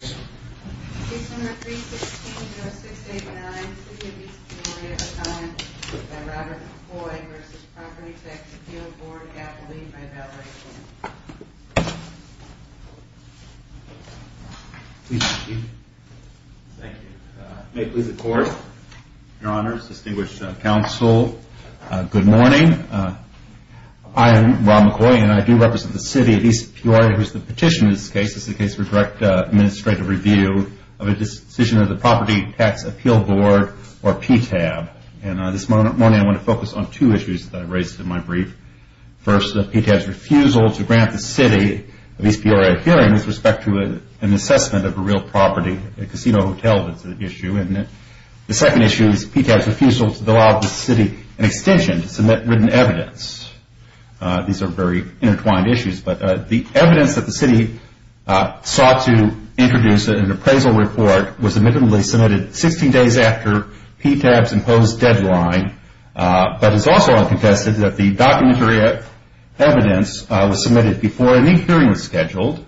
Case number 316-0689. City of East Peoria. Accounted by Robert McCoy v. Property Tax Appeal Board. Appellee by validation. Please be seated. Thank you. May it please the court, your honors, distinguished counsel, good morning. I am Rob McCoy and I do represent the city of East Peoria whose petition in this case is the case for direct administrative review of a decision of the Property Tax Appeal Board or PTAB. And this morning I want to focus on two issues that I raised in my brief. First, PTAB's refusal to grant the city of East Peoria a hearing with respect to an assessment of a real property, a casino hotel is the issue. And the second issue is PTAB's refusal to allow the city an extension to submit written evidence. These are very intertwined issues. But the evidence that the city sought to introduce in an appraisal report was admittedly submitted 16 days after PTAB's imposed deadline. But it's also uncontested that the documentary evidence was submitted before any hearing was scheduled.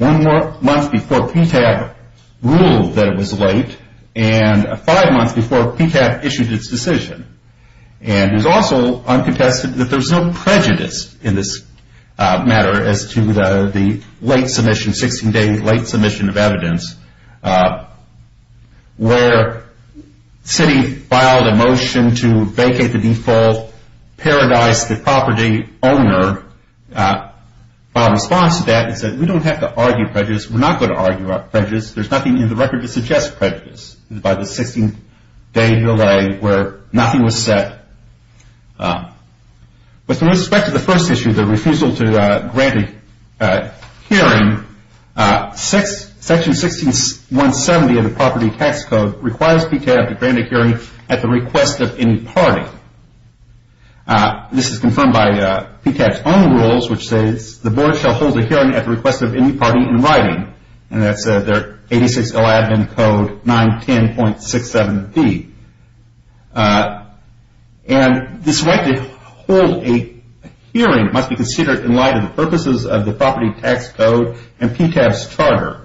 One month before PTAB ruled that it was late and five months before PTAB issued its decision. And it's also uncontested that there's no prejudice in this matter as to the late submission, 16 day late submission of evidence where the city filed a motion to vacate the default, parodize the property owner. Our response to that is that we don't have to argue prejudice. We're not going to argue prejudice. There's nothing in the record to suggest prejudice by the 16 day delay where nothing was said. With respect to the first issue, the refusal to grant a hearing, section 16.170 of the property tax code requires PTAB to grant a hearing at the request of any party. This is confirmed by PTAB's own rules which says the board shall hold a hearing at the request of any party in writing. And that's 8611 code 910.67b. And this right to hold a hearing must be considered in light of the purposes of the property tax code and PTAB's charter.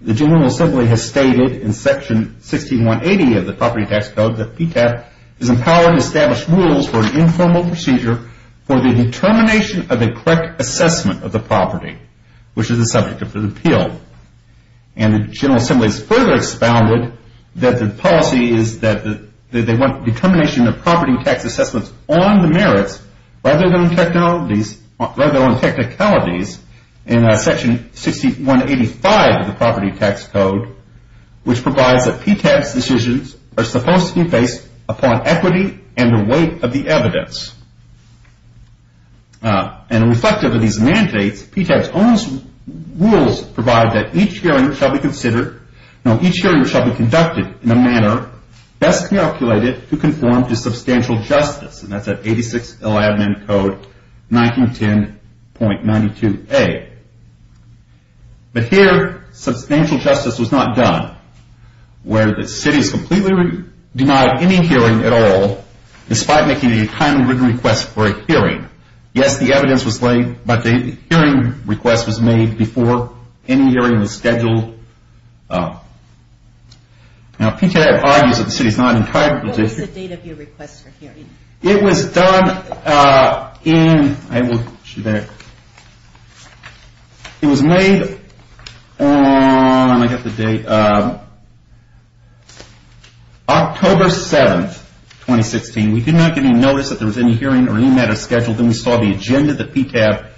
The General Assembly has stated in section 16.180 of the property tax code that PTAB is empowered to establish rules for an informal procedure for the determination of a correct assessment of the property which is the subject of the appeal. And the General Assembly has further expounded that the policy is that they want determination of property tax assessments on the merits rather than on technicalities in section 6185 of the property tax code which provides that PTAB's decisions are supposed to be based upon equity and the weight of the evidence. And reflective of these mandates, PTAB's own rules provide that each hearing shall be conducted in a manner best calculated to conform to substantial justice. And that's at 8611 code 1910.92a. But here substantial justice was not done where the city is completely denied any hearing at all despite making a timely written request for a hearing. Yes, the evidence was laid, but the hearing request was made before any hearing was scheduled. Now PTAB argues that the city is not entitled to... It was done in... It was made on October 7th, 2016. We did not get any notice that there was any hearing or any matter scheduled. Then we saw the agenda that PTAB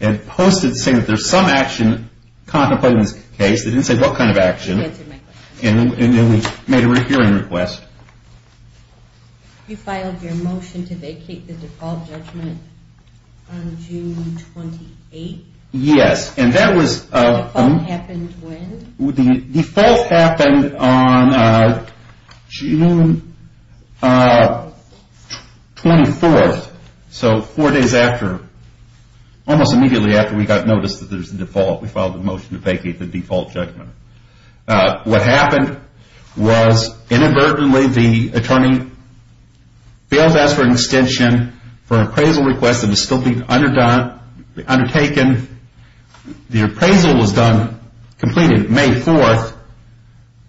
had posted saying that there's some action contemplated in this case. They didn't say what kind of action. And then we made a written hearing request. You filed your motion to vacate the default judgment on June 28th? Yes, and that was... The default happened when? The default happened on June 24th. So four days after, almost immediately after we got notice that there's a default. We filed a motion to vacate the default judgment. What happened was inadvertently the attorney failed to ask for an extension for an appraisal request that was still being undertaken. The appraisal was done, completed May 4th,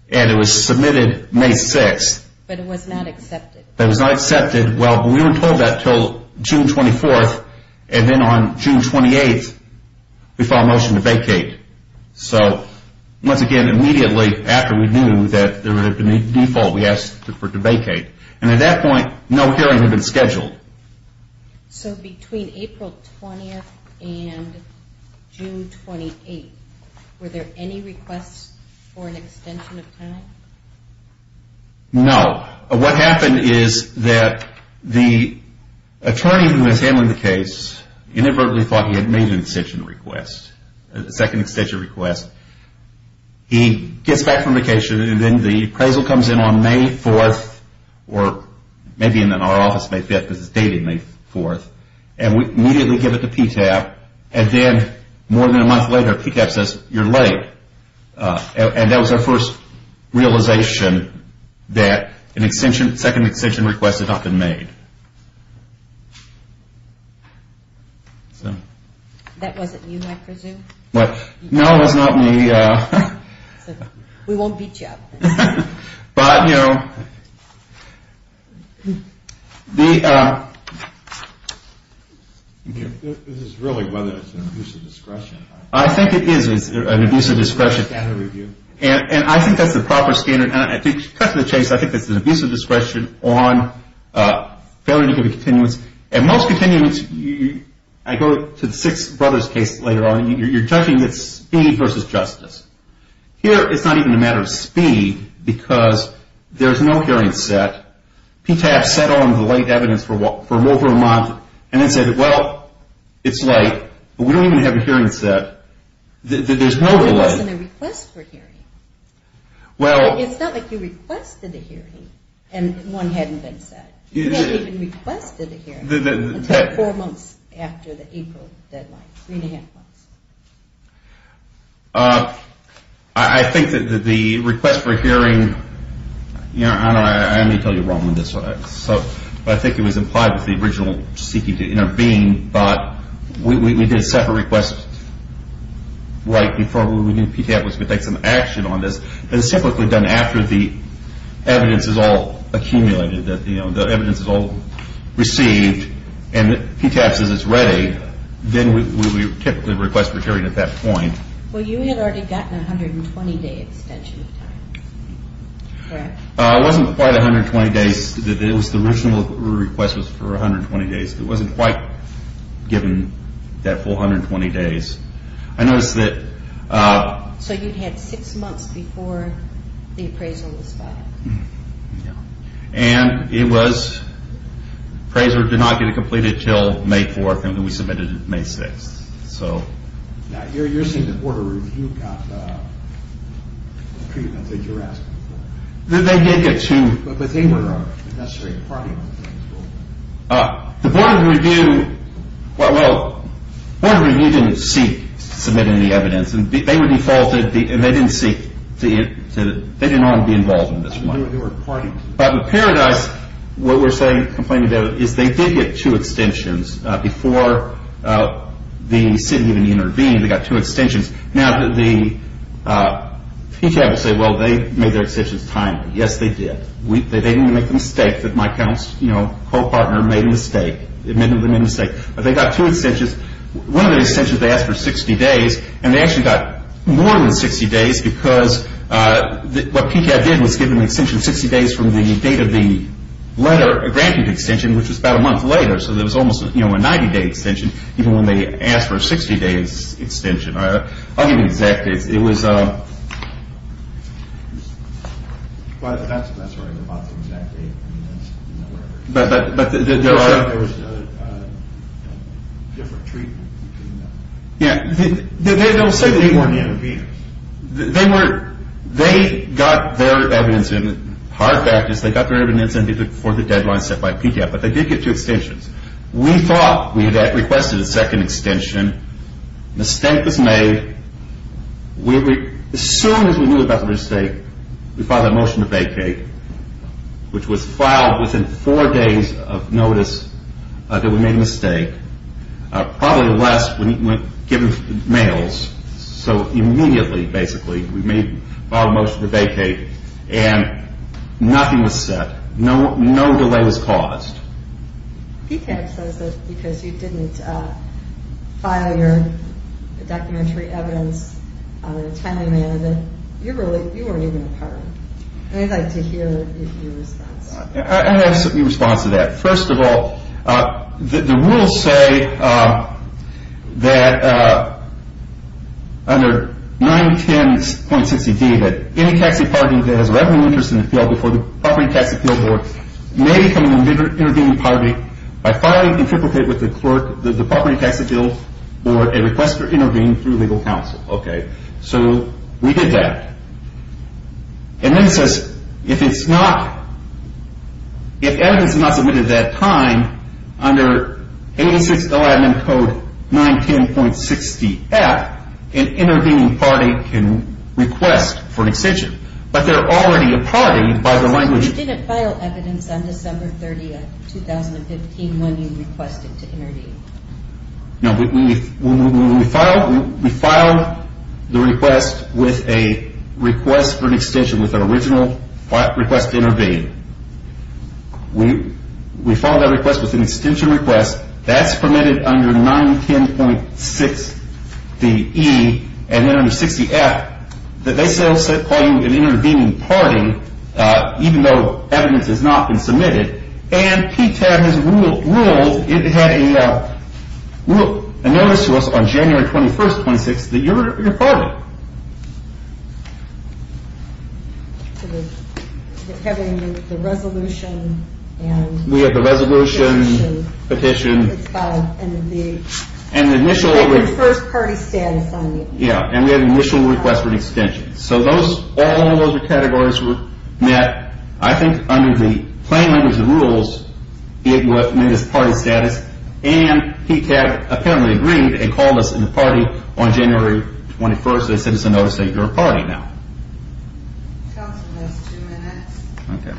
and it was submitted May 6th. But it was not accepted. It was not accepted. Well, we weren't told that until June 24th. And then on June 28th, we filed a motion to vacate. So once again, immediately after we knew that there would have been a default, we asked for it to vacate. And at that point, no hearings had been scheduled. So between April 20th and June 28th, were there any requests for an extension of time? No. What happened is that the attorney who was handling the case inadvertently thought he had made an extension request, a second extension request. He gets back from vacation, and then the appraisal comes in on May 4th, or maybe in our office May 5th because it's dated May 4th. And we immediately give it to PTAP. And then more than a month later, PTAP says, You're late. And that was our first realization that a second extension request had not been made. That wasn't you, I presume? No, it was not me. We won't beat you up. But, you know. This is really whether it's an abuse of discretion. I think it is an abuse of discretion. And I think that's the proper standard. To cut to the chase, I think it's an abuse of discretion on failure to give a continuance. And most continuance, I go to the Six Brothers case later on, you're judging it's speed versus justice. Here, it's not even a matter of speed because there's no hearing set. PTAP set on the late evidence for over a month and then said, Well, it's late. But we don't even have a hearing set. There's no delay. It wasn't a request for hearing. It's not like you requested a hearing and one hadn't been set. You didn't even request a hearing until four months after the April deadline, three and a half months. I think that the request for hearing, I may tell you wrong on this one. I think it was implied with the original seeking to intervene. But we did separate requests right before we knew PTAP was going to take some action on this. And it's typically done after the evidence is all accumulated, the evidence is all received, and PTAP says it's ready, then we typically request for hearing at that point. Well, you had already gotten a 120-day extension of time, correct? It wasn't quite 120 days. The original request was for 120 days. It wasn't quite given that full 120 days. I noticed that... So you had six months before the appraisal was filed. And it was appraiser did not get it completed until May 4th, and then we submitted it May 6th. Now, you're saying the Board of Review got the treatment that you're asking for. They did get two... But they were not necessarily a party to it. The Board of Review... Well, the Board of Review didn't seek to submit any evidence. They were defaulted, and they didn't seek to... They didn't want to be involved in this one. They were a party. But with Paradise, what we're saying, complaining about it, is they did get two extensions before the city even intervened. They got two extensions. Now, PTAB will say, well, they made their extensions timely. Yes, they did. They didn't make the mistake that my co-partner made a mistake. But they got two extensions. One of the extensions, they asked for 60 days, and they actually got more than 60 days because what PTAB did was give them an extension 60 days from the date of the letter, a 90-day extension, which was about a month later. So there was almost a 90-day extension, even when they asked for a 60-day extension. I'll give you the exact dates. It was... That's right. We're talking about the exact date. But there are... They said there was a different treatment. Yeah. They were... They were the interveners. They were... They got their evidence, and the hard fact is they got their evidence before the deadline set by PTAB. But they did get two extensions. We thought we had requested a second extension. Mistake was made. As soon as we knew about the mistake, we filed a motion to vacate, which was filed within four days of notice that we made a mistake, probably less when given mails. So immediately, basically, we filed a motion to vacate, and nothing was said. No delay was caused. PTAB says that because you didn't file your documentary evidence on a timely manner, that you weren't even a part of it. I'd like to hear your response. I have a response to that. First of all, the rules say that under 910.60d, any taxi party that has a revenue interest in the field before the property tax appeal board may become an intervening party by filing and triplicate with the clerk, the property tax appeal board, a request for intervening through legal counsel. Okay. So we did that. And then it says if it's not... If evidence is not submitted at that time, under 86 Alabama code 910.60f, an intervening party can request for an extension. But they're already a party by the language... So you didn't file evidence on December 30th, 2015, when you requested to intervene. No, we filed the request with a request for an extension, with an original request to intervene. We filed that request with an extension request. That's permitted under 910.60e, and then under 60f, that they still call you an intervening party, even though evidence has not been submitted. And PTAB has ruled, it had a notice to us on January 21st, 2016, that you're a party. So we're having the resolution and... We have the resolution, petition. And the first party status on the... Yeah, and we had an initial request for an extension. So all of those categories were met, I think, under the plain language of rules, it was party status, and PTAB apparently agreed and called us a party on January 21st. They said it's a notice that you're a party now. Council has two minutes. Okay.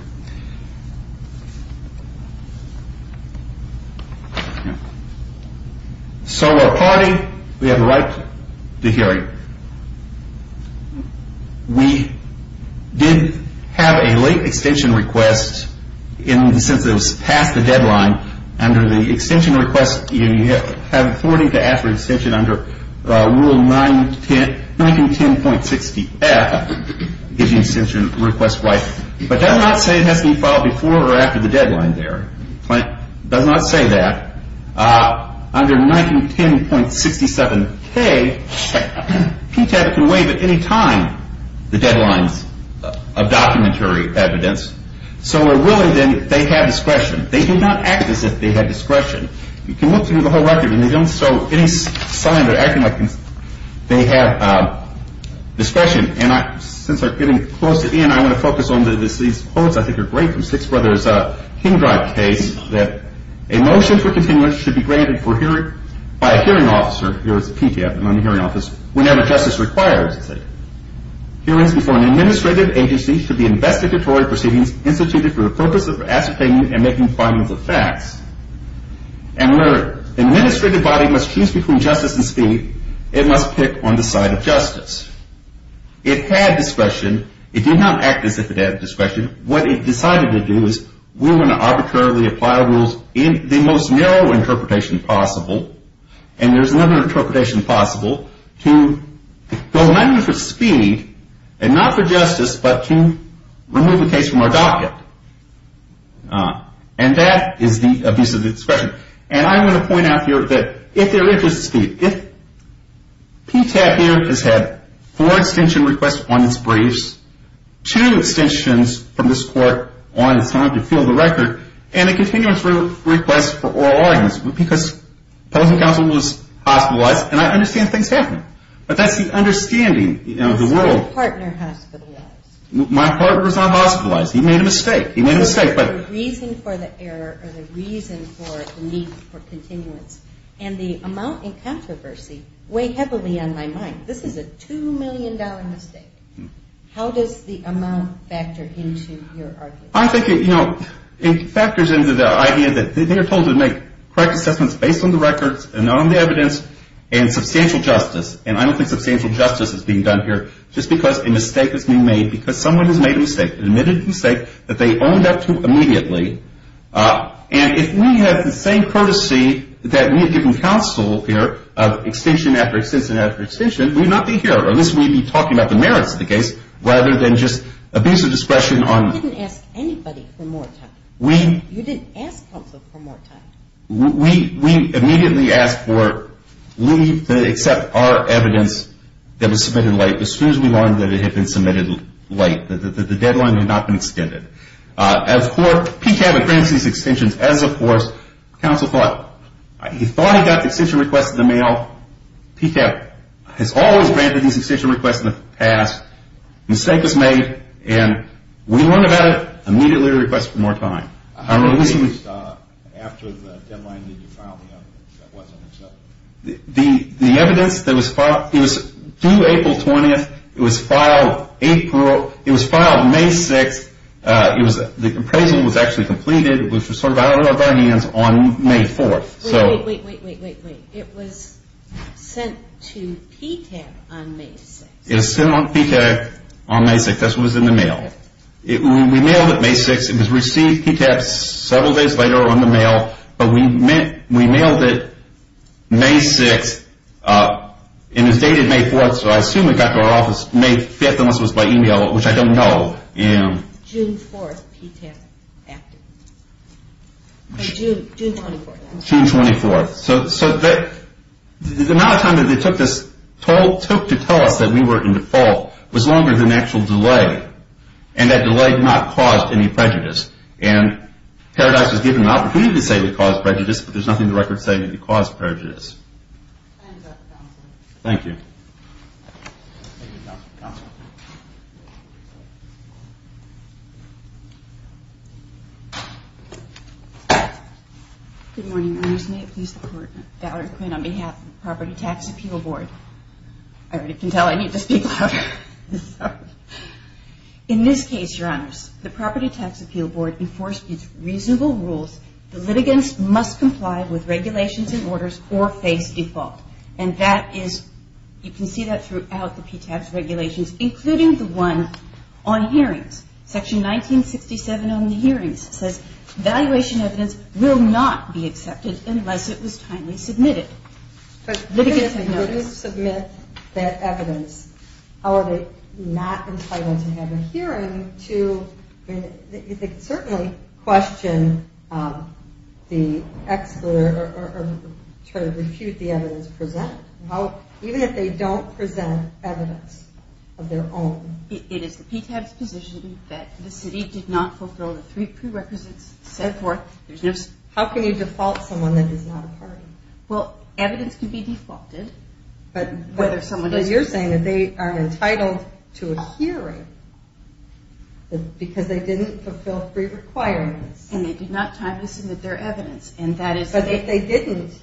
So we're a party. We have the right to the hearing. We did have a late extension request in the sense that it was past the deadline. Under the extension request, you have authority to ask for an extension under Rule 910.60f, if the extension request was... But it does not say it has to be filed before or after the deadline there. It does not say that. Under 910.67k, PTAB can waive at any time the deadlines of documentary evidence. So we're willing then that they have discretion. They did not act as if they had discretion. You can look through the whole record, and they don't show any sign of acting like they have discretion. And since we're getting closer in, I'm going to focus on these quotes. I think they're great from Six Brothers' King Drive case that a motion for continuance should be granted by a hearing officer, here it's a PTAB, not a hearing office, whenever justice requires it. Hearings before an administrative agency should be investigatory proceedings instituted for the purpose of ascertaining and making findings of facts. And where an administrative body must choose between justice and speed, it must pick on the side of justice. It had discretion. It did not act as if it had discretion. What it decided to do is we're going to arbitrarily apply rules in the most narrow interpretation possible, and there's another interpretation possible, to go mainly for speed, and not for justice, but to remove a case from our docket. And that is the abuse of discretion. And I'm going to point out here that if there is a speed, if PTAB here has had four extension requests on its briefs, two extensions from this court on its time to fill the record, and a continuance request for oral arguments, because opposing counsel was hospitalized, and I understand things happen. But that's the understanding of the world. My partner hospitalized. My partner was not hospitalized. He made a mistake. He made a mistake. The reason for the error or the reason for the need for continuance and the amount in controversy weigh heavily on my mind. This is a $2 million mistake. How does the amount factor into your argument? I think it factors into the idea that they're told to make correct assessments based on the records and on the evidence and substantial justice. And I don't think substantial justice is being done here just because a mistake is being made because someone has made a mistake, admitted a mistake that they owned up to immediately. And if we have the same courtesy that we have given counsel here of extension after extension after extension, we would not be here. Or at least we would be talking about the merits of the case rather than just abuse of discretion on. You didn't ask anybody for more time. We. You didn't ask counsel for more time. We immediately asked for leave to accept our evidence that was submitted late as soon as we learned that it had been submitted late. The deadline had not been extended. As for PCAB granting these extensions, as of course, counsel thought, he thought he got the extension request in the mail. PCAB has always granted these extension requests in the past. Mistake was made. And we learned about it, immediately requested for more time. How many days after the deadline did you file the evidence that wasn't accepted? The evidence that was filed, it was due April 20th. It was filed April. It was filed May 6th. The appraisal was actually completed. It was sort of out of our hands on May 4th. Wait, wait, wait, wait, wait, wait. It was sent to PCAB on May 6th. It was sent to PCAB on May 6th. That's what was in the mail. We mailed it May 6th. It was received, PCAB, several days later on the mail. But we mailed it May 6th. And it was dated May 4th, so I assume it got to our office May 5th, unless it was by email, which I don't know. June 4th, PTAB. June 24th. June 24th. So the amount of time that they took to tell us that we were in default was longer than the actual delay. And that delay did not cause any prejudice. And Paradise was given an opportunity to say we caused prejudice, but there's nothing in the record saying that we caused prejudice. Time is up, counsel. Thank you. Thank you, counsel. Good morning, Your Honors. May it please the Court. Valerie Quinn on behalf of the Property Tax Appeal Board. I already can tell I need to speak louder. In this case, Your Honors, the Property Tax Appeal Board enforced its reasonable rules. The litigants must comply with regulations and orders or face default. And that is, you can see that throughout the PTAB's regulations, including the one on hearings. Section 1967 on the hearings says, valuation evidence will not be accepted unless it was timely submitted. But if the litigants didn't submit that evidence, how are they not entitled to have a hearing to certainly question the expert or try to refute the evidence presented? Even if they don't present evidence of their own. It is the PTAB's position that the city did not fulfill the three prerequisites set forth. How can you default someone that is not a party? Well, evidence can be defaulted. But you're saying that they are entitled to a hearing because they didn't fulfill three requirements. And they did not timely submit their evidence. But if they didn't,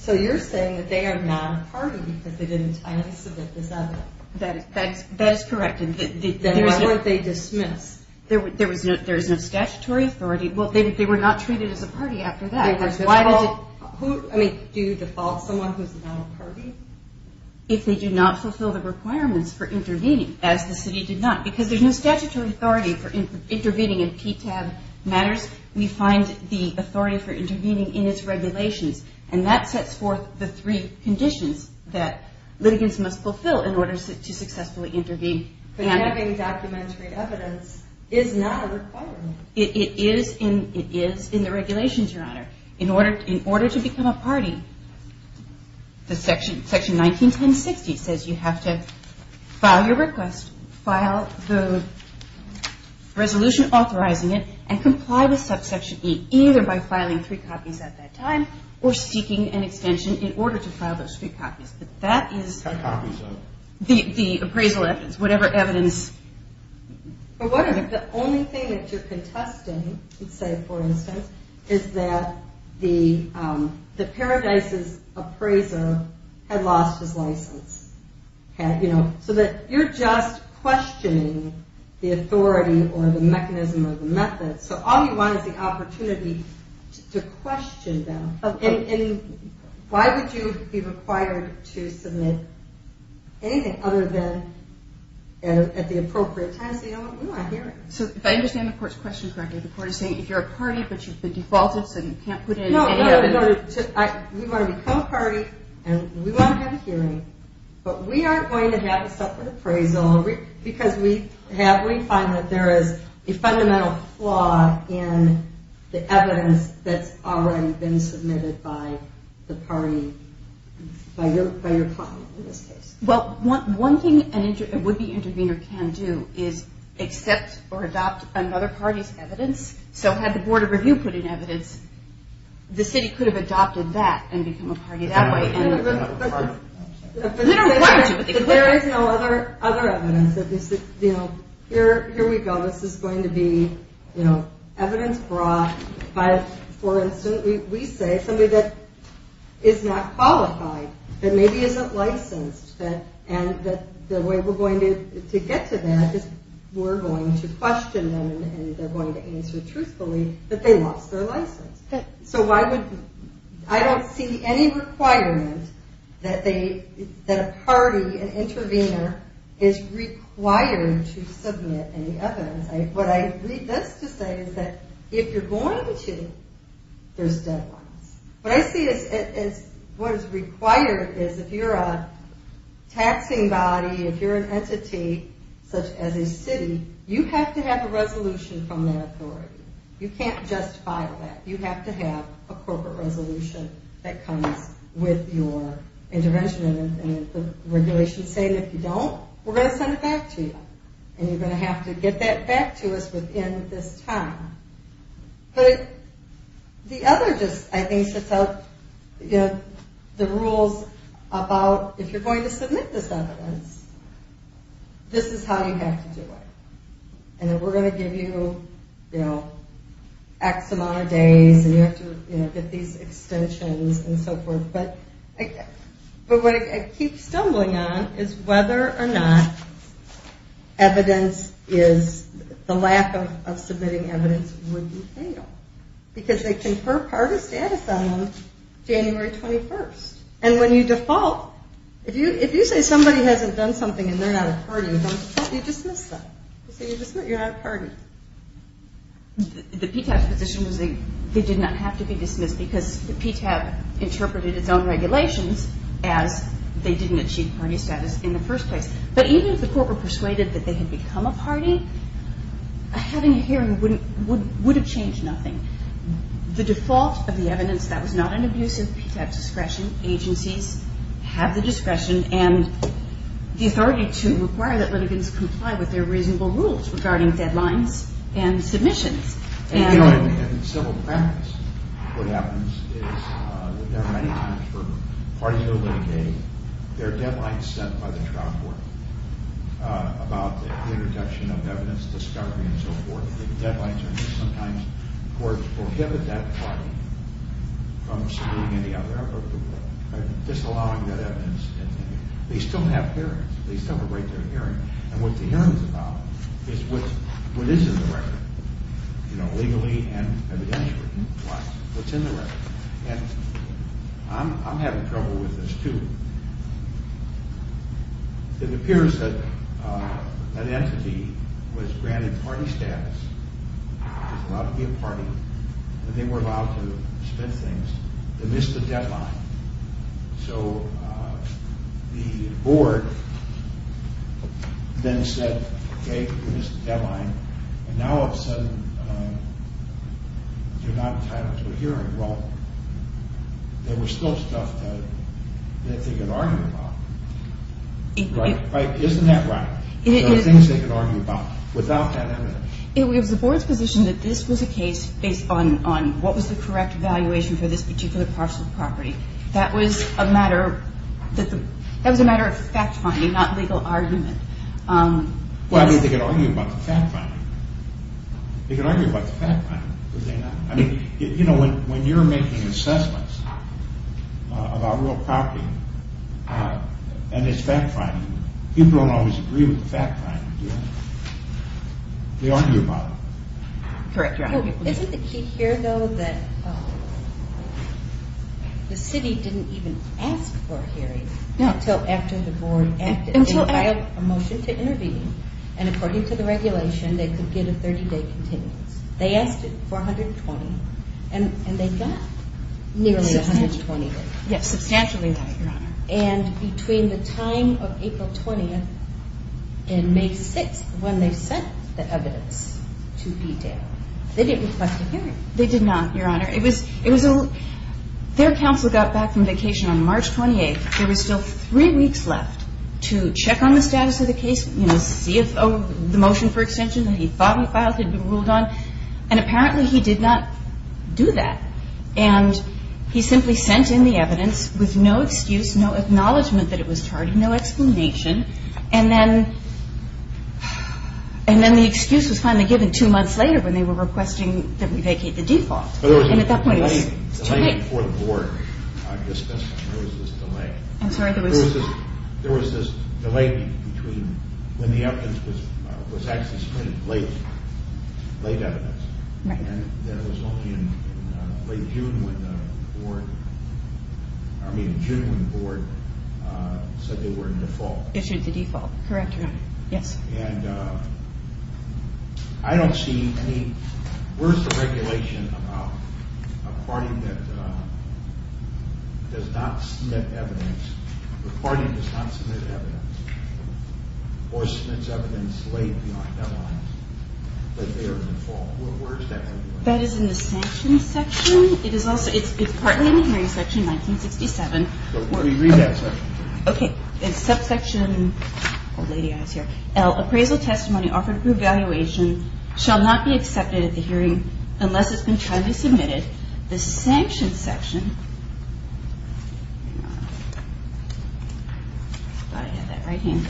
so you're saying that they are not a party because they didn't timely submit this evidence. That is correct. Then how would they dismiss? There is no statutory authority. Well, they were not treated as a party after that. Do you default someone who is not a party? If they do not fulfill the requirements for intervening, as the city did not. Because there is no statutory authority for intervening in PTAB matters. We find the authority for intervening in its regulations. And that sets forth the three conditions that litigants must fulfill in order to successfully intervene. But having documentary evidence is not a requirement. It is in the regulations, Your Honor. In order to become a party, the section 191060 says you have to file your request, file the resolution authorizing it, and comply with subsection E, either by filing three copies at that time or seeking an extension in order to file those three copies. But that is the appraisal evidence, whatever evidence. But what if the only thing that you are contesting, say for instance, is that the Paradise's appraiser had lost his license? So that you are just questioning the authority or the mechanism or the method. So all you want is the opportunity to question them. And why would you be required to submit anything other than at the appropriate time? Say, you know what, we want a hearing. So if I understand the Court's question correctly, the Court is saying if you are a party, but you have been defaulted, so you can't put in any evidence. No, no, no. We want to become a party and we want to have a hearing. But we aren't going to have a separate appraisal because we find that there is a fundamental flaw in the evidence that has already been submitted by the party, by your party in this case. Well, one thing a would-be intervener can do is accept or adopt another party's evidence. So had the Board of Review put in evidence, the city could have adopted that and become a party that way. But there is no other evidence. Here we go, this is going to be evidence brought by, for instance, we say, somebody that is not qualified, that maybe isn't licensed. And the way we're going to get to that is we're going to question them and they're going to answer truthfully that they lost their license. So I don't see any requirement that a party, an intervener, is required to submit any evidence. What I read this to say is that if you're going to, there's deadlines. What I see as what is required is if you're a taxing body, if you're an entity such as a city, you have to have a resolution from that authority. You can't just file that. You have to have a corporate resolution that comes with your intervention. And if the regulations say if you don't, we're going to send it back to you. And you're going to have to get that back to us within this time. But the other just, I think, sets out the rules about if you're going to submit this evidence, this is how you have to do it. And then we're going to give you X amount of days and you have to get these extensions and so forth. But what I keep stumbling on is whether or not evidence is, the lack of submitting evidence would be fatal. Because they confer party status on them January 21st. And when you default, if you say somebody hasn't done something and they're not a party, you dismiss them. You say you're not a party. The PTAP's position was they did not have to be dismissed because the PTAP interpreted its own regulations as they didn't achieve party status in the first place. But even if the court were persuaded that they had become a party, having a hearing would have changed nothing. The default of the evidence, that was not an abuse of PTAP's discretion. Agencies have the discretion and the authority to require that litigants comply with their reasonable rules regarding deadlines and submissions. In civil practice, what happens is that there are many times for parties that are litigating, there are deadlines set by the trial court about the introduction of evidence, discovery and so forth. Sometimes courts forgive that party from submitting any other report, disallowing that evidence. They still have hearings. They celebrate their hearing. And what the hearing is about is what is in the record, you know, legally and evidentially. What's in the record. And I'm having trouble with this too. It appears that an entity was granted party status, was allowed to be a party, and they were allowed to submit things. They missed the deadline. So the board then said, okay, you missed the deadline. And now all of a sudden you're not entitled to a hearing. Well, there was still stuff that they could argue about. Right? Isn't that right? There were things they could argue about without that evidence. It was the board's position that this was a case based on what was the correct evaluation for this particular parcel of property. That was a matter of fact finding, not legal argument. Well, I mean, they could argue about the fact finding. They could argue about the fact finding. I mean, you know, when you're making assessments about real property and it's fact finding, people don't always agree with the fact finding, do they? They argue about it. Isn't the key here, though, that the city didn't even ask for a hearing until after the board acted. They filed a motion to intervene. And according to the regulation, they could get a 30-day continence. They asked for 120, and they got nearly 120 days. Yes, substantially that, Your Honor. And between the time of April 20th and May 6th, when they sent the evidence to e-dail, they didn't request a hearing. They did not, Your Honor. Their counsel got back from vacation on March 28th. There was still three weeks left to check on the status of the case, you know, to see if the motion for extension that he thought he filed had been ruled on. And apparently he did not do that. And he simply sent in the evidence with no excuse, no acknowledgment that it was tardy, no explanation. And then the excuse was finally given two months later when they were requesting that we vacate the default. And at that point, it was too late. Before the board discussed it, there was this delay. I'm sorry, there was? There was this delay between when the evidence was actually submitted, late evidence. Right. And then it was only in late June when the board, I mean in June when the board said they were in default. Issued the default. Correct, Your Honor. Yes. And I don't see any, where's the regulation about a party that does not submit evidence, the party does not submit evidence, or submits evidence late, you know, I have no idea, that they are in default. Where is that? That is in the sanctions section. It is also, it's partly in the hearing section in 1967. But where do you read that section from? Okay. In subsection L, appraisal testimony offered through evaluation shall not be accepted at the hearing unless it's been timely submitted. The sanctions section, I thought I had that right here.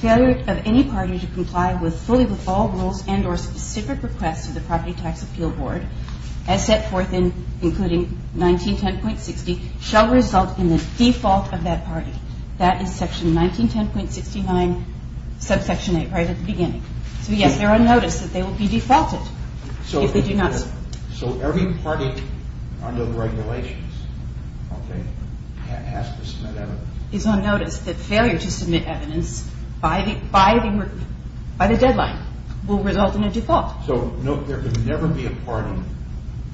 Failure of any party to comply fully with all rules and or specific requests of the Property Tax Appeal Board as set forth in, including 1910.60, shall result in the default of that party. That is section 1910.69, subsection 8, right at the beginning. So yes, they're on notice that they will be defaulted if they do not submit. So every party under the regulations, okay, has to submit evidence? It's on notice that failure to submit evidence by the deadline will result in a default. So there could never be a party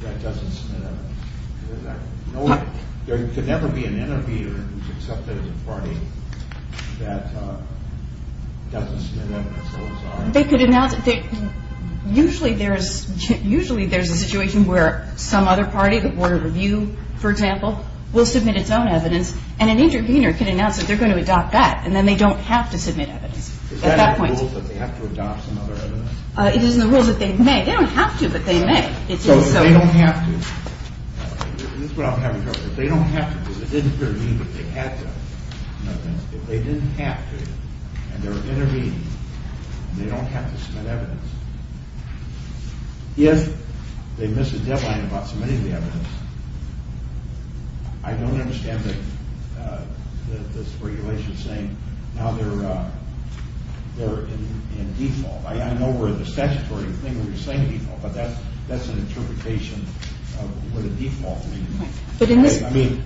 that doesn't submit evidence? There could never be an intervener who's accepted as a party that doesn't submit evidence? They could announce it. Usually there's a situation where some other party, the Board of Review for example, will submit its own evidence and an intervener can announce that they're going to adopt that and then they don't have to submit evidence at that point. Is that in the rules that they have to adopt some other evidence? It is in the rules that they may. They don't have to, but they may. So if they don't have to, this is what I'm having trouble with, if they don't have to because they didn't intervene but they had to, in other words, if they didn't have to and they're intervening and they don't have to submit evidence, if they miss a deadline about submitting the evidence, I don't understand this regulation saying now they're in default. I know we're in the statutory thing where we're saying default, but that's an interpretation of what a default means.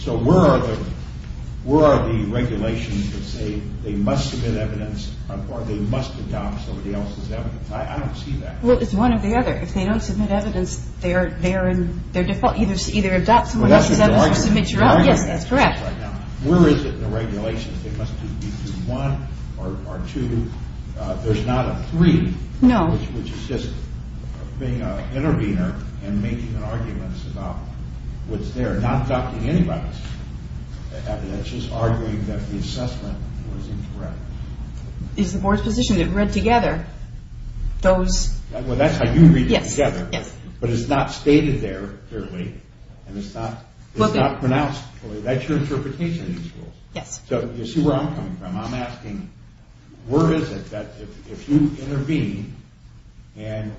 So where are the regulations that say they must submit evidence or they must adopt somebody else's evidence? I don't see that. Well, it's one or the other. If they don't submit evidence, they're in their default. Either adopt somebody else's evidence or submit your own. That's a good argument. Yes, that's correct. Where is it in the regulations? It must be through one or two. There's not a three, which is just being an intervener and making arguments about what's there, not adopting anybody's evidence, just arguing that the assessment was incorrect. It's the board's position. It read together those. Well, that's how you read it together. Yes. But it's not stated there clearly and it's not pronounced clearly. That's your interpretation of these rules. Yes. So you see where I'm coming from. I'm asking where is it that if you intervene and,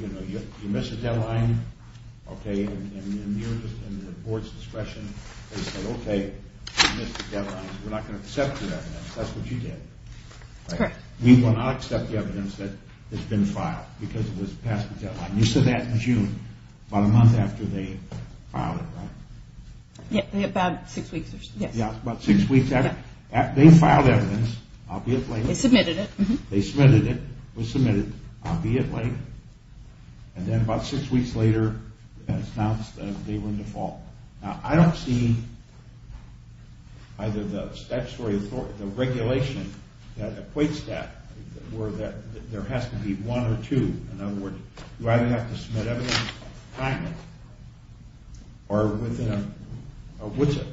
you know, you miss a deadline, okay, and you're in the board's discretion, they say, okay, you missed the deadline. We're not going to accept your evidence. That's what you did. That's correct. We will not accept the evidence that has been filed because it was passed the deadline. You said that in June, about a month after they filed it, right? About six weeks. Yes. About six weeks after they filed evidence, albeit late. They submitted it. They submitted it. It was submitted, albeit late. And then about six weeks later, it's announced that they were in default. Now, I don't see either the statutory authority, the regulation that equates that or that there has to be one or two. In other words, you either have to submit evidence timely or within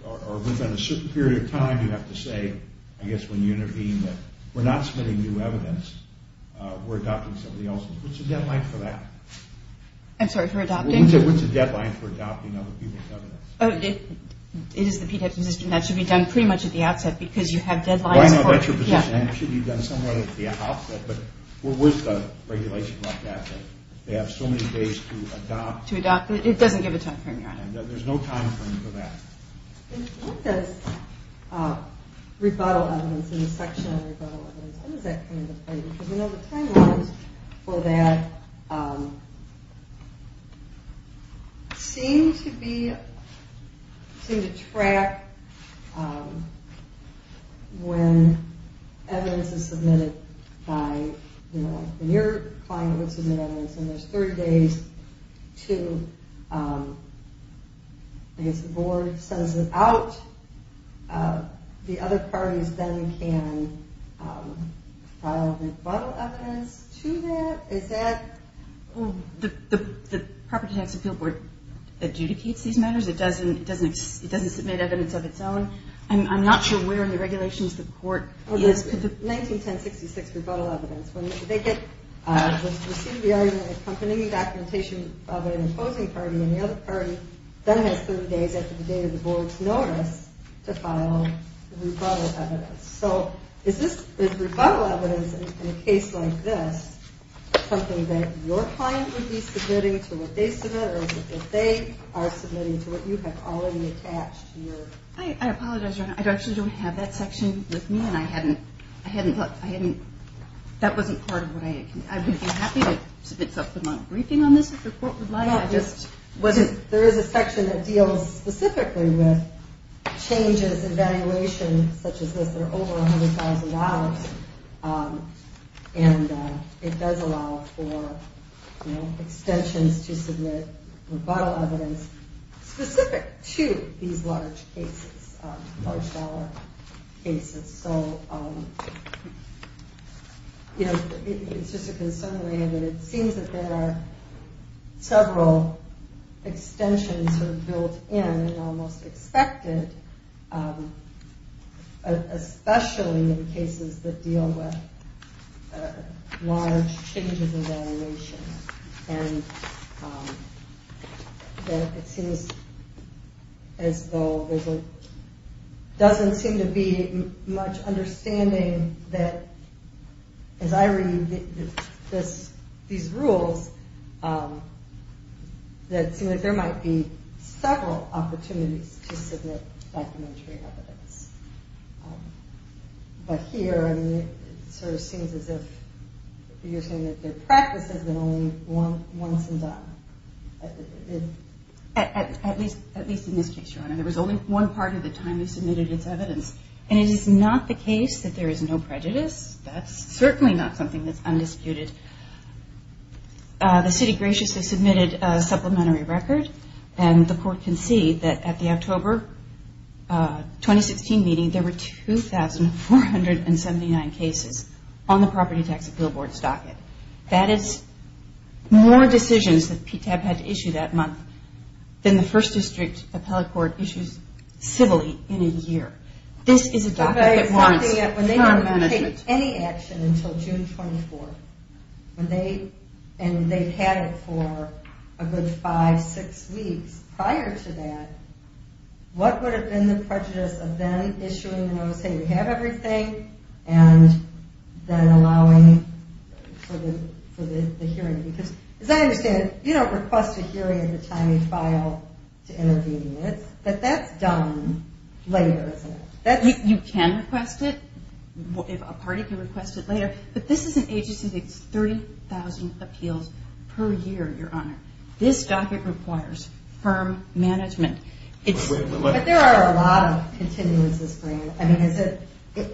a certain period of time you have to say, I guess, when you intervene that we're not submitting new evidence, we're adopting somebody else's. What's the deadline for that? I'm sorry, for adopting? What's the deadline for adopting other people's evidence? It is the PDEP position. That should be done pretty much at the outset because you have deadlines for it. Well, I know that's your position. It should be done somewhere at the outset, but what was the regulation like that that they have so many days to adopt? To adopt. It doesn't give a time frame, Your Honor. There's no time frame for that. What does rebuttal evidence in the section on rebuttal evidence, what is that kind of thing? Because, you know, the timelines for that seem to be, seem to track when evidence is submitted by, you know, your client would submit evidence and there's 30 days to, I guess, the board sends it out. The other parties then can file rebuttal evidence to that. Is that? The Property Tax Appeal Board adjudicates these matters. It doesn't submit evidence of its own. I'm not sure where in the regulations the court is. 191066, rebuttal evidence. When they get, receive the argument accompanying the documentation of an opposing party and the other party then has 30 days after the date of the board's notice to file rebuttal evidence. So is this, is rebuttal evidence in a case like this something that your client would be submitting to what they submit or is it that they are submitting to what you have already attached to your? I apologize, Your Honor. I actually don't have that section with me and I hadn't, I hadn't thought, I hadn't, that wasn't part of what I, I would be happy to submit something on a briefing on this if the court would like. There is a section that deals specifically with changes in valuation such as this that are over $100,000 and it does allow for extensions to submit rebuttal evidence specific to these large cases, large dollar cases. So, you know, it's just a concern of mine that it seems that there are several extensions sort of built in and almost expected, especially in cases that deal with large changes in valuation. And that it seems as though there's a, doesn't seem to be much understanding that as I read this, these rules that seem like there might be several opportunities to submit documentary evidence. But here it sort of seems as if you're saying that their practice has been only once and done. At least in this case, Your Honor. There was only one part of the time we submitted its evidence and it is not the case that there is no prejudice. That's certainly not something that's undisputed. The city graciously submitted a supplementary record and the court conceded that at the October 2016 meeting, that is more decisions that PTAP had to issue that month than the first district appellate court issues civilly in a year. This is a document that warrants time management. When they didn't take any action until June 24th, and they've had it for a good five, six weeks prior to that, and then allowing for the hearing. Because as I understand it, you don't request a hearing at the time you file to intervene. But that's done later, isn't it? You can request it if a party can request it later. But this is an agency that takes 30,000 appeals per year, Your Honor. This docket requires firm management. But there are a lot of continuances for you.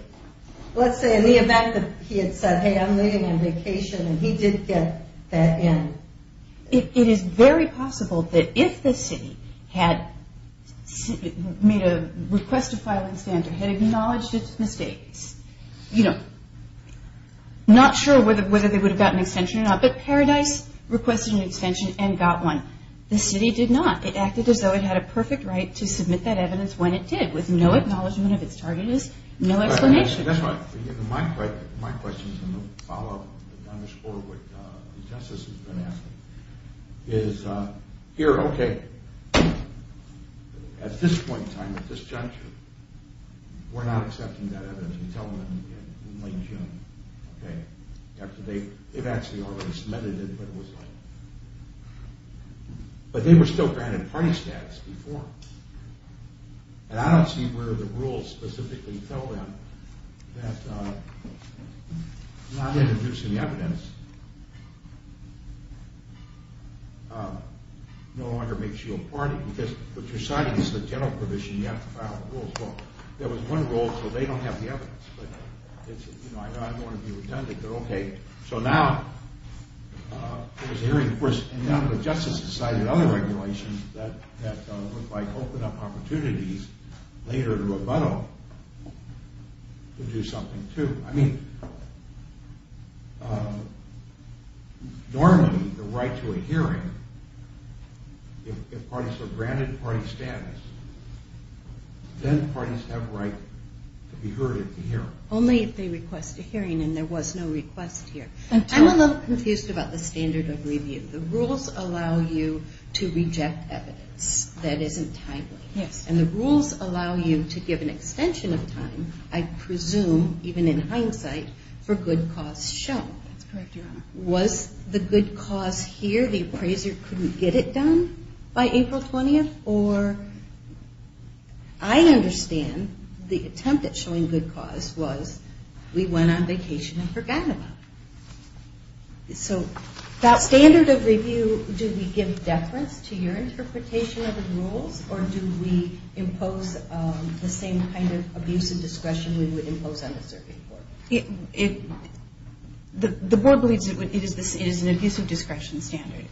Let's say in the event that he had said, hey, I'm leaving on vacation, and he did get that in. It is very possible that if the city had made a request to file an extension or had acknowledged its mistakes, not sure whether they would have gotten an extension or not, but Paradise requested an extension and got one. The city did not. It acted as though it had a perfect right to submit that evidence when it did, with no acknowledgment of its targetedness, no explanation. That's right. My question is going to follow up and underscore what the Justice has been asking. Is here, okay, at this point in time, at this juncture, we're not accepting that evidence. We tell them in late June, okay, after they've actually already submitted it. But they were still granted party status before. And I don't see where the rules specifically tell them that not introducing the evidence no longer makes you a party because what you're signing is the general provision. You have to file the rules. Well, there was one rule, so they don't have the evidence. But it's, you know, I don't want to be redundant. So now there's a hearing, of course, and now the Justice has decided other regulations that look like open up opportunities later to rebuttal to do something, too. I mean, normally the right to a hearing, if parties are granted party status, then parties have a right to be heard at the hearing. Only if they request a hearing, and there was no request here. I'm a little confused about the standard of review. The rules allow you to reject evidence that isn't timely. Yes. And the rules allow you to give an extension of time, I presume, even in hindsight, for good cause shown. That's correct, Your Honor. Was the good cause here, the appraiser couldn't get it done by April 20th? Or, I understand the attempt at showing good cause was we went on vacation and forgot about it. So that standard of review, do we give deference to your interpretation of the rules, or do we impose the same kind of abuse and discretion we would impose on the serving court? The board believes it is an abusive discretion standard.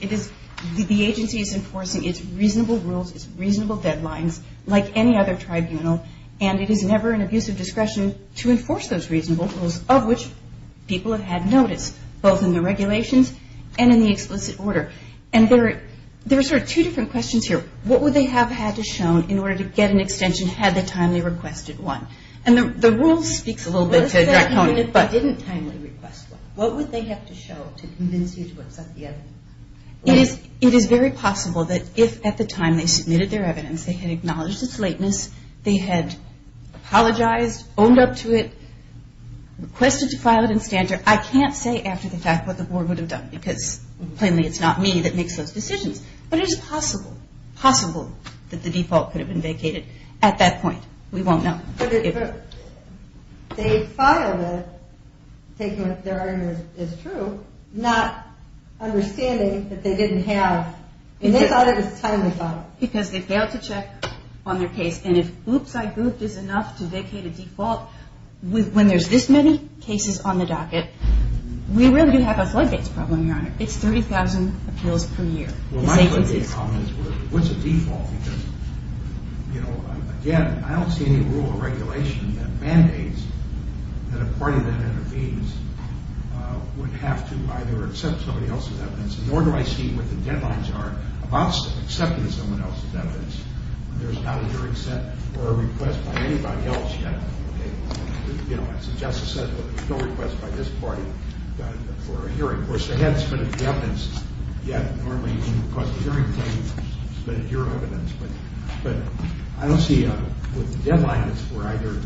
The agency is enforcing its reasonable rules, its reasonable deadlines, like any other tribunal, and it is never an abuse of discretion to enforce those reasonable rules, of which people have had notice, both in the regulations and in the explicit order. And there are sort of two different questions here. What would they have had to show in order to get an extension had they timely requested one? And the rule speaks a little bit to Dracone. What if they didn't timely request one? What would they have to show to convince you to accept the evidence? It is very possible that if at the time they submitted their evidence they had acknowledged its lateness, they had apologized, owned up to it, requested to file it in standard, I can't say after the fact what the board would have done, because plainly it's not me that makes those decisions. But it is possible, possible, that the default could have been vacated at that point. We won't know. But if they filed it, taking that their argument is true, not understanding that they didn't have, and they thought it was timely filed. Because they failed to check on their case, and if oops-I-gooped is enough to vacate a default, when there's this many cases on the docket, we really do have a floodgates problem, Your Honor. It's 30,000 appeals per year. Well, my question to you, Tom, is what's a default? Because, you know, again, I don't see any rule or regulation that mandates that a party that intervenes would have to either accept somebody else's evidence, nor do I see what the deadlines are about accepting someone else's evidence. There's not a hearing sent or a request by anybody else yet. You know, as the Justice said, there's no request by this party for a hearing. Of course, they haven't submitted the evidence yet. Normally, when you request a hearing, they've submitted your evidence. But I don't see a deadline that's for either,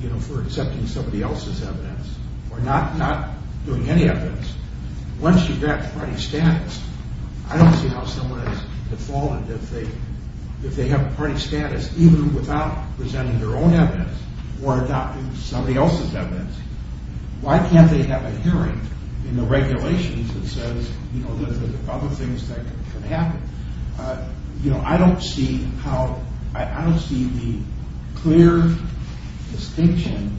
you know, for accepting somebody else's evidence or not doing any evidence. Once you've got the party status, I don't see how someone has defaulted if they have a party status even without presenting their own evidence or adopting somebody else's evidence. Why can't they have a hearing in the regulations that says, you know, there's other things that can happen? You know, I don't see how, I don't see the clear distinction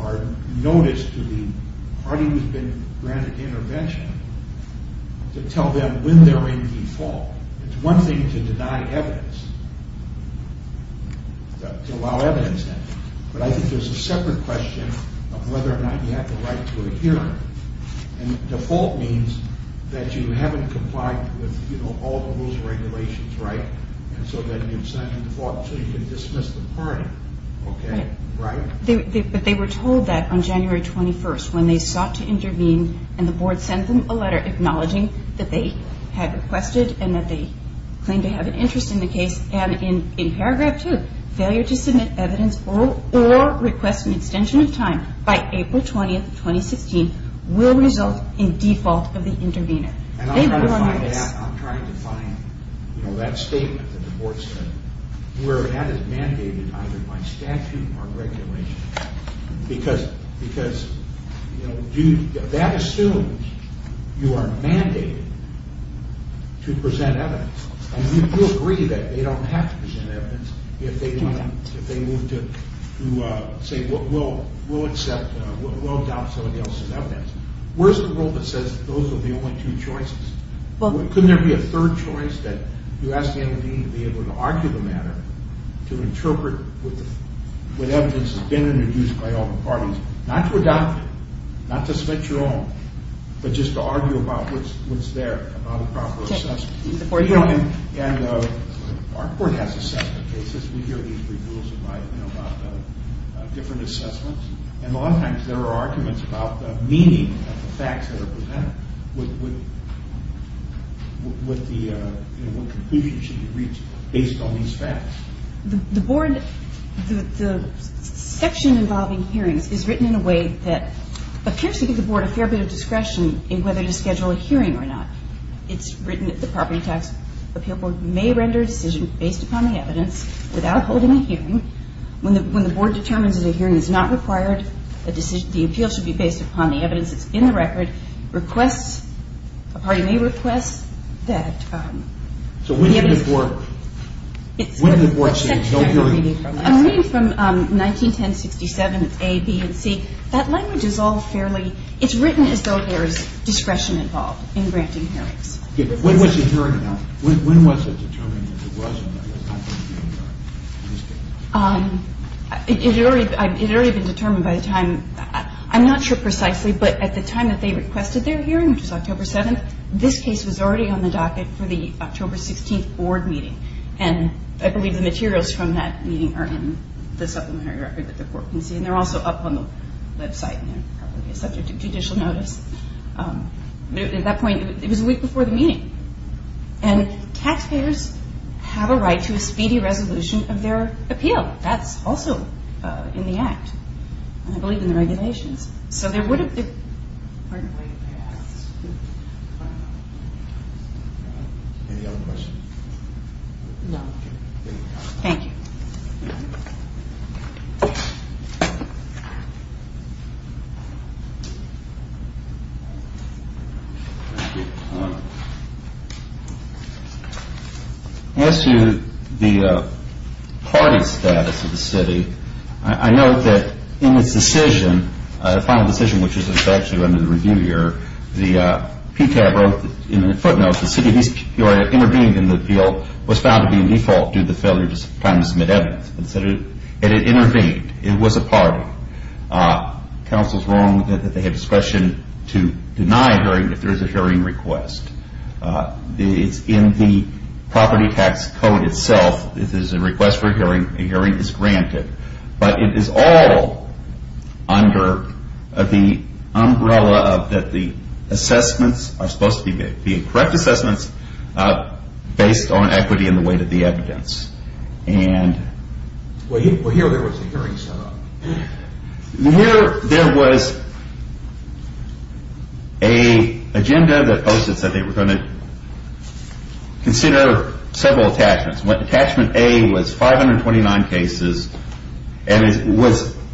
or notice to the party who's been granted intervention to tell them when they're in default. It's one thing to deny evidence, to allow evidence in, but I think there's a separate question of whether or not you have the right to a hearing. And default means that you haven't complied with, you know, all the rules and regulations right, and so then you've signed a default so you can dismiss the party. Okay? Right? But they were told that on January 21st, when they sought to intervene, and the board sent them a letter acknowledging that they had requested and that they claimed to have an interest in the case, and in paragraph 2, failure to submit evidence or request an extension of time by April 20th, 2016, will result in default of the intervener. And I'm trying to find, you know, that statement that the board sent where that is mandated either by statute or regulation. Because, you know, that assumes you are mandated to present evidence, and you agree that they don't have to present evidence if they move to say we'll adopt somebody else's evidence. Where's the rule that says those are the only two choices? Couldn't there be a third choice that you ask the other dean to be able to argue the matter, to interpret what evidence has been introduced by all the parties, not to adopt it, not to submit your own, but just to argue about what's there, about a proper assessment. And our board has assessment cases. We hear these reviews about different assessments, and a lot of times there are arguments about the meaning of the facts The board, the section involving hearings is written in a way that appears to give the board a fair bit of discretion in whether to schedule a hearing or not. It's written that the property tax appeal board may render a decision based upon the evidence without holding a hearing. When the board determines that a hearing is not required, the appeal should be based upon the evidence that's in the record, a party may request that... So when did the board say no hearings? I'm reading from 1910-67, it's A, B, and C. That language is all fairly... It's written as though there is discretion involved in granting hearings. When was it determined that it wasn't? It had already been determined by the time... I'm not sure precisely, but at the time that they requested their hearing, which was October 7th, this case was already on the docket for the October 16th board meeting. And I believe the materials from that meeting are in the supplementary record that the board can see, and they're also up on the website and probably subject to judicial notice. At that point, it was a week before the meeting. And taxpayers have a right to a speedy resolution of their appeal. That's also in the Act. I believe in the regulations. So there would have been... Any other questions? No. Thank you. As to the party status of the city, I note that in its decision, the final decision, which is actually under the review here, the PTAB wrote in the footnotes, the city of East Peoria intervened in the appeal, was found to be in default due to the failure to plan to submit evidence. And it intervened. It was a party. Counsel's wrong that they had discretion to deny a hearing if there is a hearing request. In the property tax code itself, if there's a request for a hearing, a hearing is granted. But it is all under the umbrella that the assessments are supposed to be correct assessments based on equity in the weight of the evidence. And... Well, here there was a hearing set up. Here there was a agenda that posted that they were going to consider several attachments. Attachment A was 529 cases. And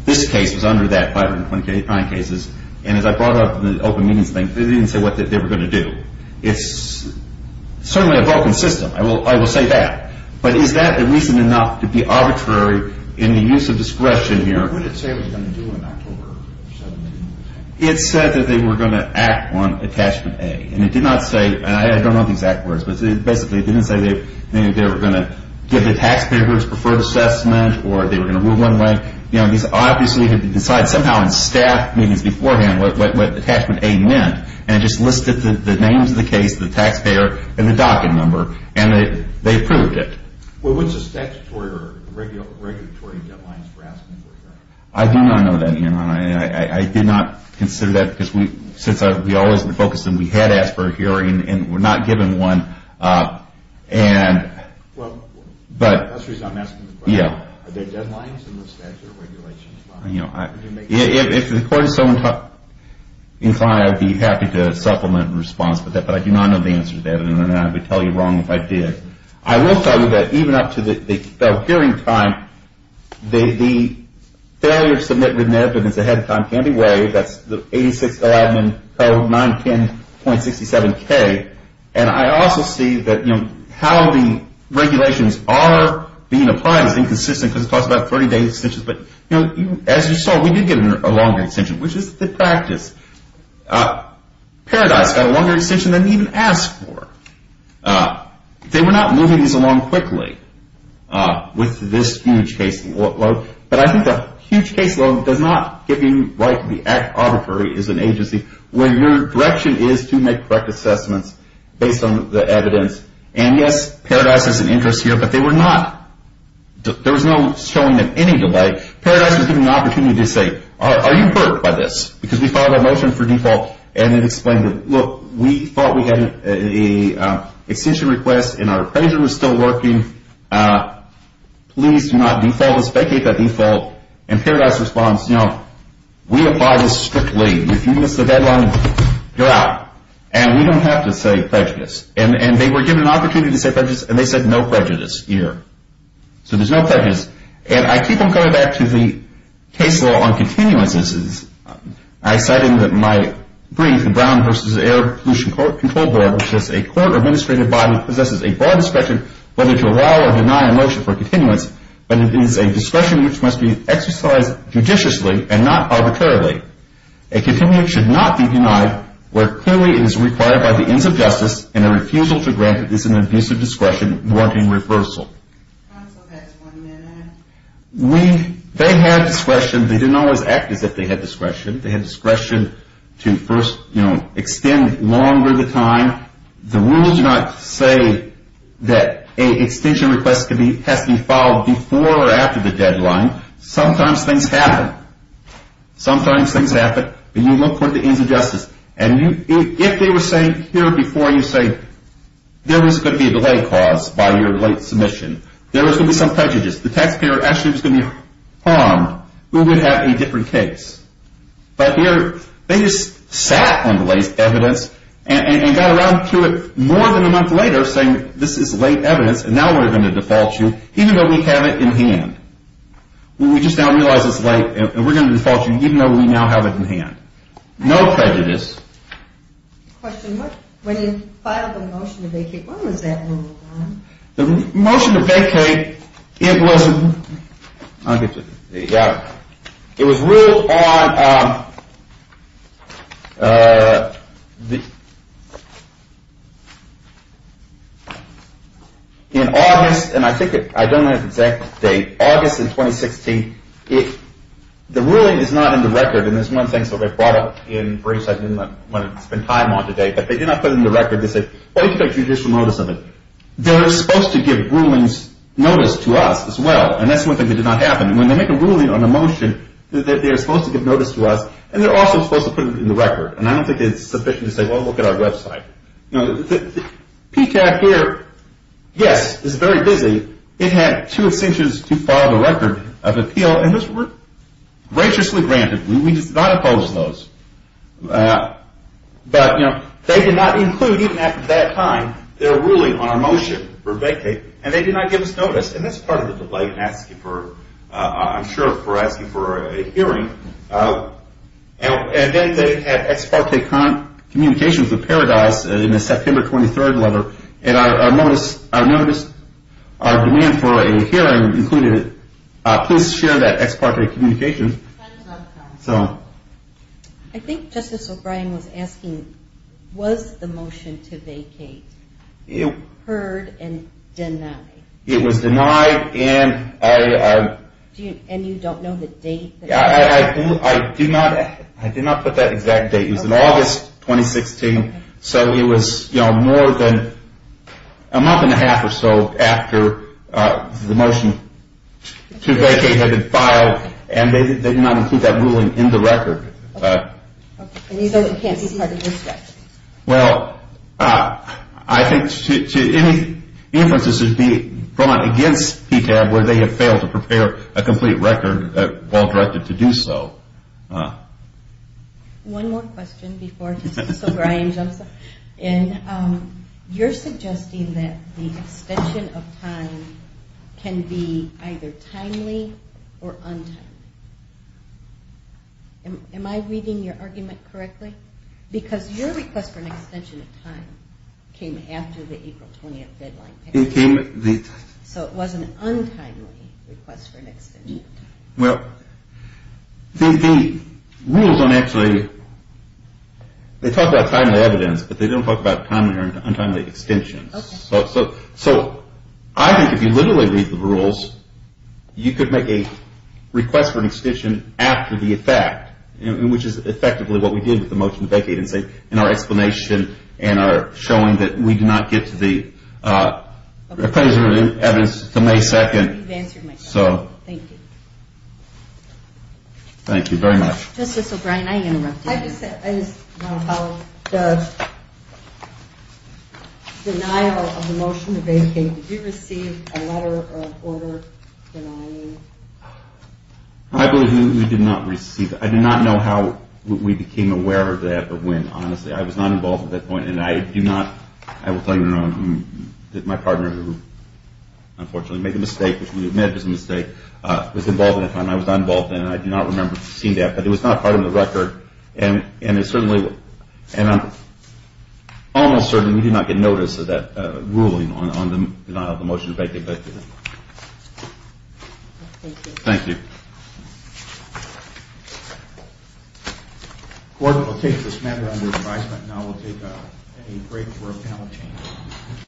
this case was under that 529 cases. And as I brought up in the open meetings thing, they didn't say what they were going to do. It's certainly a broken system. I will say that. But is that a reason enough to be arbitrary in the use of discretion here? What did it say it was going to do in October 17? It said that they were going to act on attachment A. And it did not say, and I don't know the exact words, but it basically didn't say that they were going to give the taxpayers preferred assessment or they were going to rule one way. These obviously had been decided somehow in staff meetings beforehand what attachment A meant. And it just listed the names of the case, the taxpayer, and the docket number. And they approved it. Well, what's the statutory or regulatory deadlines for asking for a hearing? I do not know that, Ian. I did not consider that, since we always focused on we had asked for a hearing and were not given one. Well, that's the reason I'm asking the question. Are there deadlines in the statutory regulations? If the court is so inclined, I would be happy to supplement and respond to that. But I do not know the answer to that, and I would tell you wrong if I did. I will tell you that even up to the hearing time, the failure to submit remittance ahead of time can be worried. That's the 86-0 admin code, 910.67K. And I also see that how the regulations are being applied is inconsistent because it talks about 30-day extensions. But as you saw, we did get a longer extension, which is the practice. Paradise got a longer extension than we even asked for. They were not moving these along quickly with this huge case load. But I think that huge case load does not give you the right to be arbitrary as an agency when your direction is to make correct assessments based on the evidence. And yes, Paradise has an interest here, but there was no showing them any delay. Paradise was given the opportunity to say, are you hurt by this? Because we filed a motion for default, and it explained, look, we thought we had an extension request, and our appraiser was still working. Please do not default. Let's vacate that default. And Paradise responds, you know, we apply this strictly. If you miss the deadline, you're out. And we don't have to say prejudice. And they were given an opportunity to say prejudice, and they said no prejudice here. So there's no prejudice. And I keep on going back to the case law on continuances. I cited my brief, the Brown v. Air Pollution Control Board, which says a court or administrative body possesses a broad discretion whether to allow or deny a motion for continuance, but it is a discretion which must be exercised judiciously and not arbitrarily. A continuance should not be denied where it clearly is required by the ends of justice and a refusal to grant it is an abusive discretion warranting reversal. Counsel has one minute. They had discretion. They didn't always act as if they had discretion. They had discretion to first, you know, extend longer the time. The rules do not say that an extension request has to be filed before or after the deadline. Sometimes things happen. Sometimes things happen, but you look for the ends of justice. And if they were saying here before you say there was going to be a delay caused by your late submission, there was going to be some prejudice, the taxpayer actually was going to be harmed, we would have a different case. But here they just sat on the late evidence and got around to it more than a month later saying this is late evidence and now we're going to default you even though we have it in hand. We just now realize it's late and we're going to default you even though we now have it in hand. No prejudice. Question. When you filed the motion to vacate, when was that ruled on? The motion to vacate, it was, I'll get you, there you go. It was ruled on in August, and I think I don't have the exact date, August of 2016. The ruling is not in the record, and this is one of the things that they brought up in briefs I didn't want to spend time on today, but they did not put it in the record. They said, oh, you can take judicial notice of it. They're supposed to give rulings notice to us as well, and that's one thing that did not happen. When they make a ruling on a motion, they're supposed to give notice to us, and they're also supposed to put it in the record, and I don't think it's sufficient to say, well, look at our website. PTAC here, yes, is very busy. It had two extensions to file the record of appeal, and those were graciously granted. We did not oppose those, but they did not include, even after that time, their ruling on our motion for vacating, and they did not give us notice, and that's part of the delight in asking for, I'm sure, for asking for a hearing. And then they had ex parte communications with Paradise in the September 23 letter, and our notice, our demand for a hearing included, please share that ex parte communication. I think Justice O'Brien was asking, was the motion to vacate heard and denied? It was denied. And you don't know the date? I do not put that exact date. It was in August 2016, so it was, you know, more than a month and a half or so after the motion to vacate had been filed, and they did not include that ruling in the record. Okay. And you don't think that's part of your strategy? Well, I think any inferences would be brought against PTAB where they had failed to prepare a complete record that Walt directed to do so. One more question before Justice O'Brien jumps in. You're suggesting that the extension of time can be either timely or untimely. Am I reading your argument correctly? Because your request for an extension of time came after the April 20th deadline. So it was an untimely request for an extension of time. Well, the rules don't actually, they talk about timely evidence, but they don't talk about timely or untimely extensions. So I think if you literally read the rules, you could make a request for an extension after the effect, which is effectively what we did with the motion to vacate in our explanation and our showing that we do not get to the appraisal of evidence until May 2nd. You've answered my question. Thank you. Thank you very much. Justice O'Brien, I interrupted you. I just want to follow up. The denial of the motion to vacate, did you receive a letter of order denying it? I believe we did not receive it. I do not know how we became aware of that or when. Honestly, I was not involved at that point, and I do not, I will tell you now, that my partner, who unfortunately made a mistake, which we admit is a mistake, was involved at that time. I was not involved then, and I do not remember seeing that. But it was not part of the record, and it certainly, and I'm almost certain we did not get notice of that ruling on the denial of the motion to vacate. Thank you. Thank you. The Court will take this matter under advisement. Now we'll take a break for a panel change.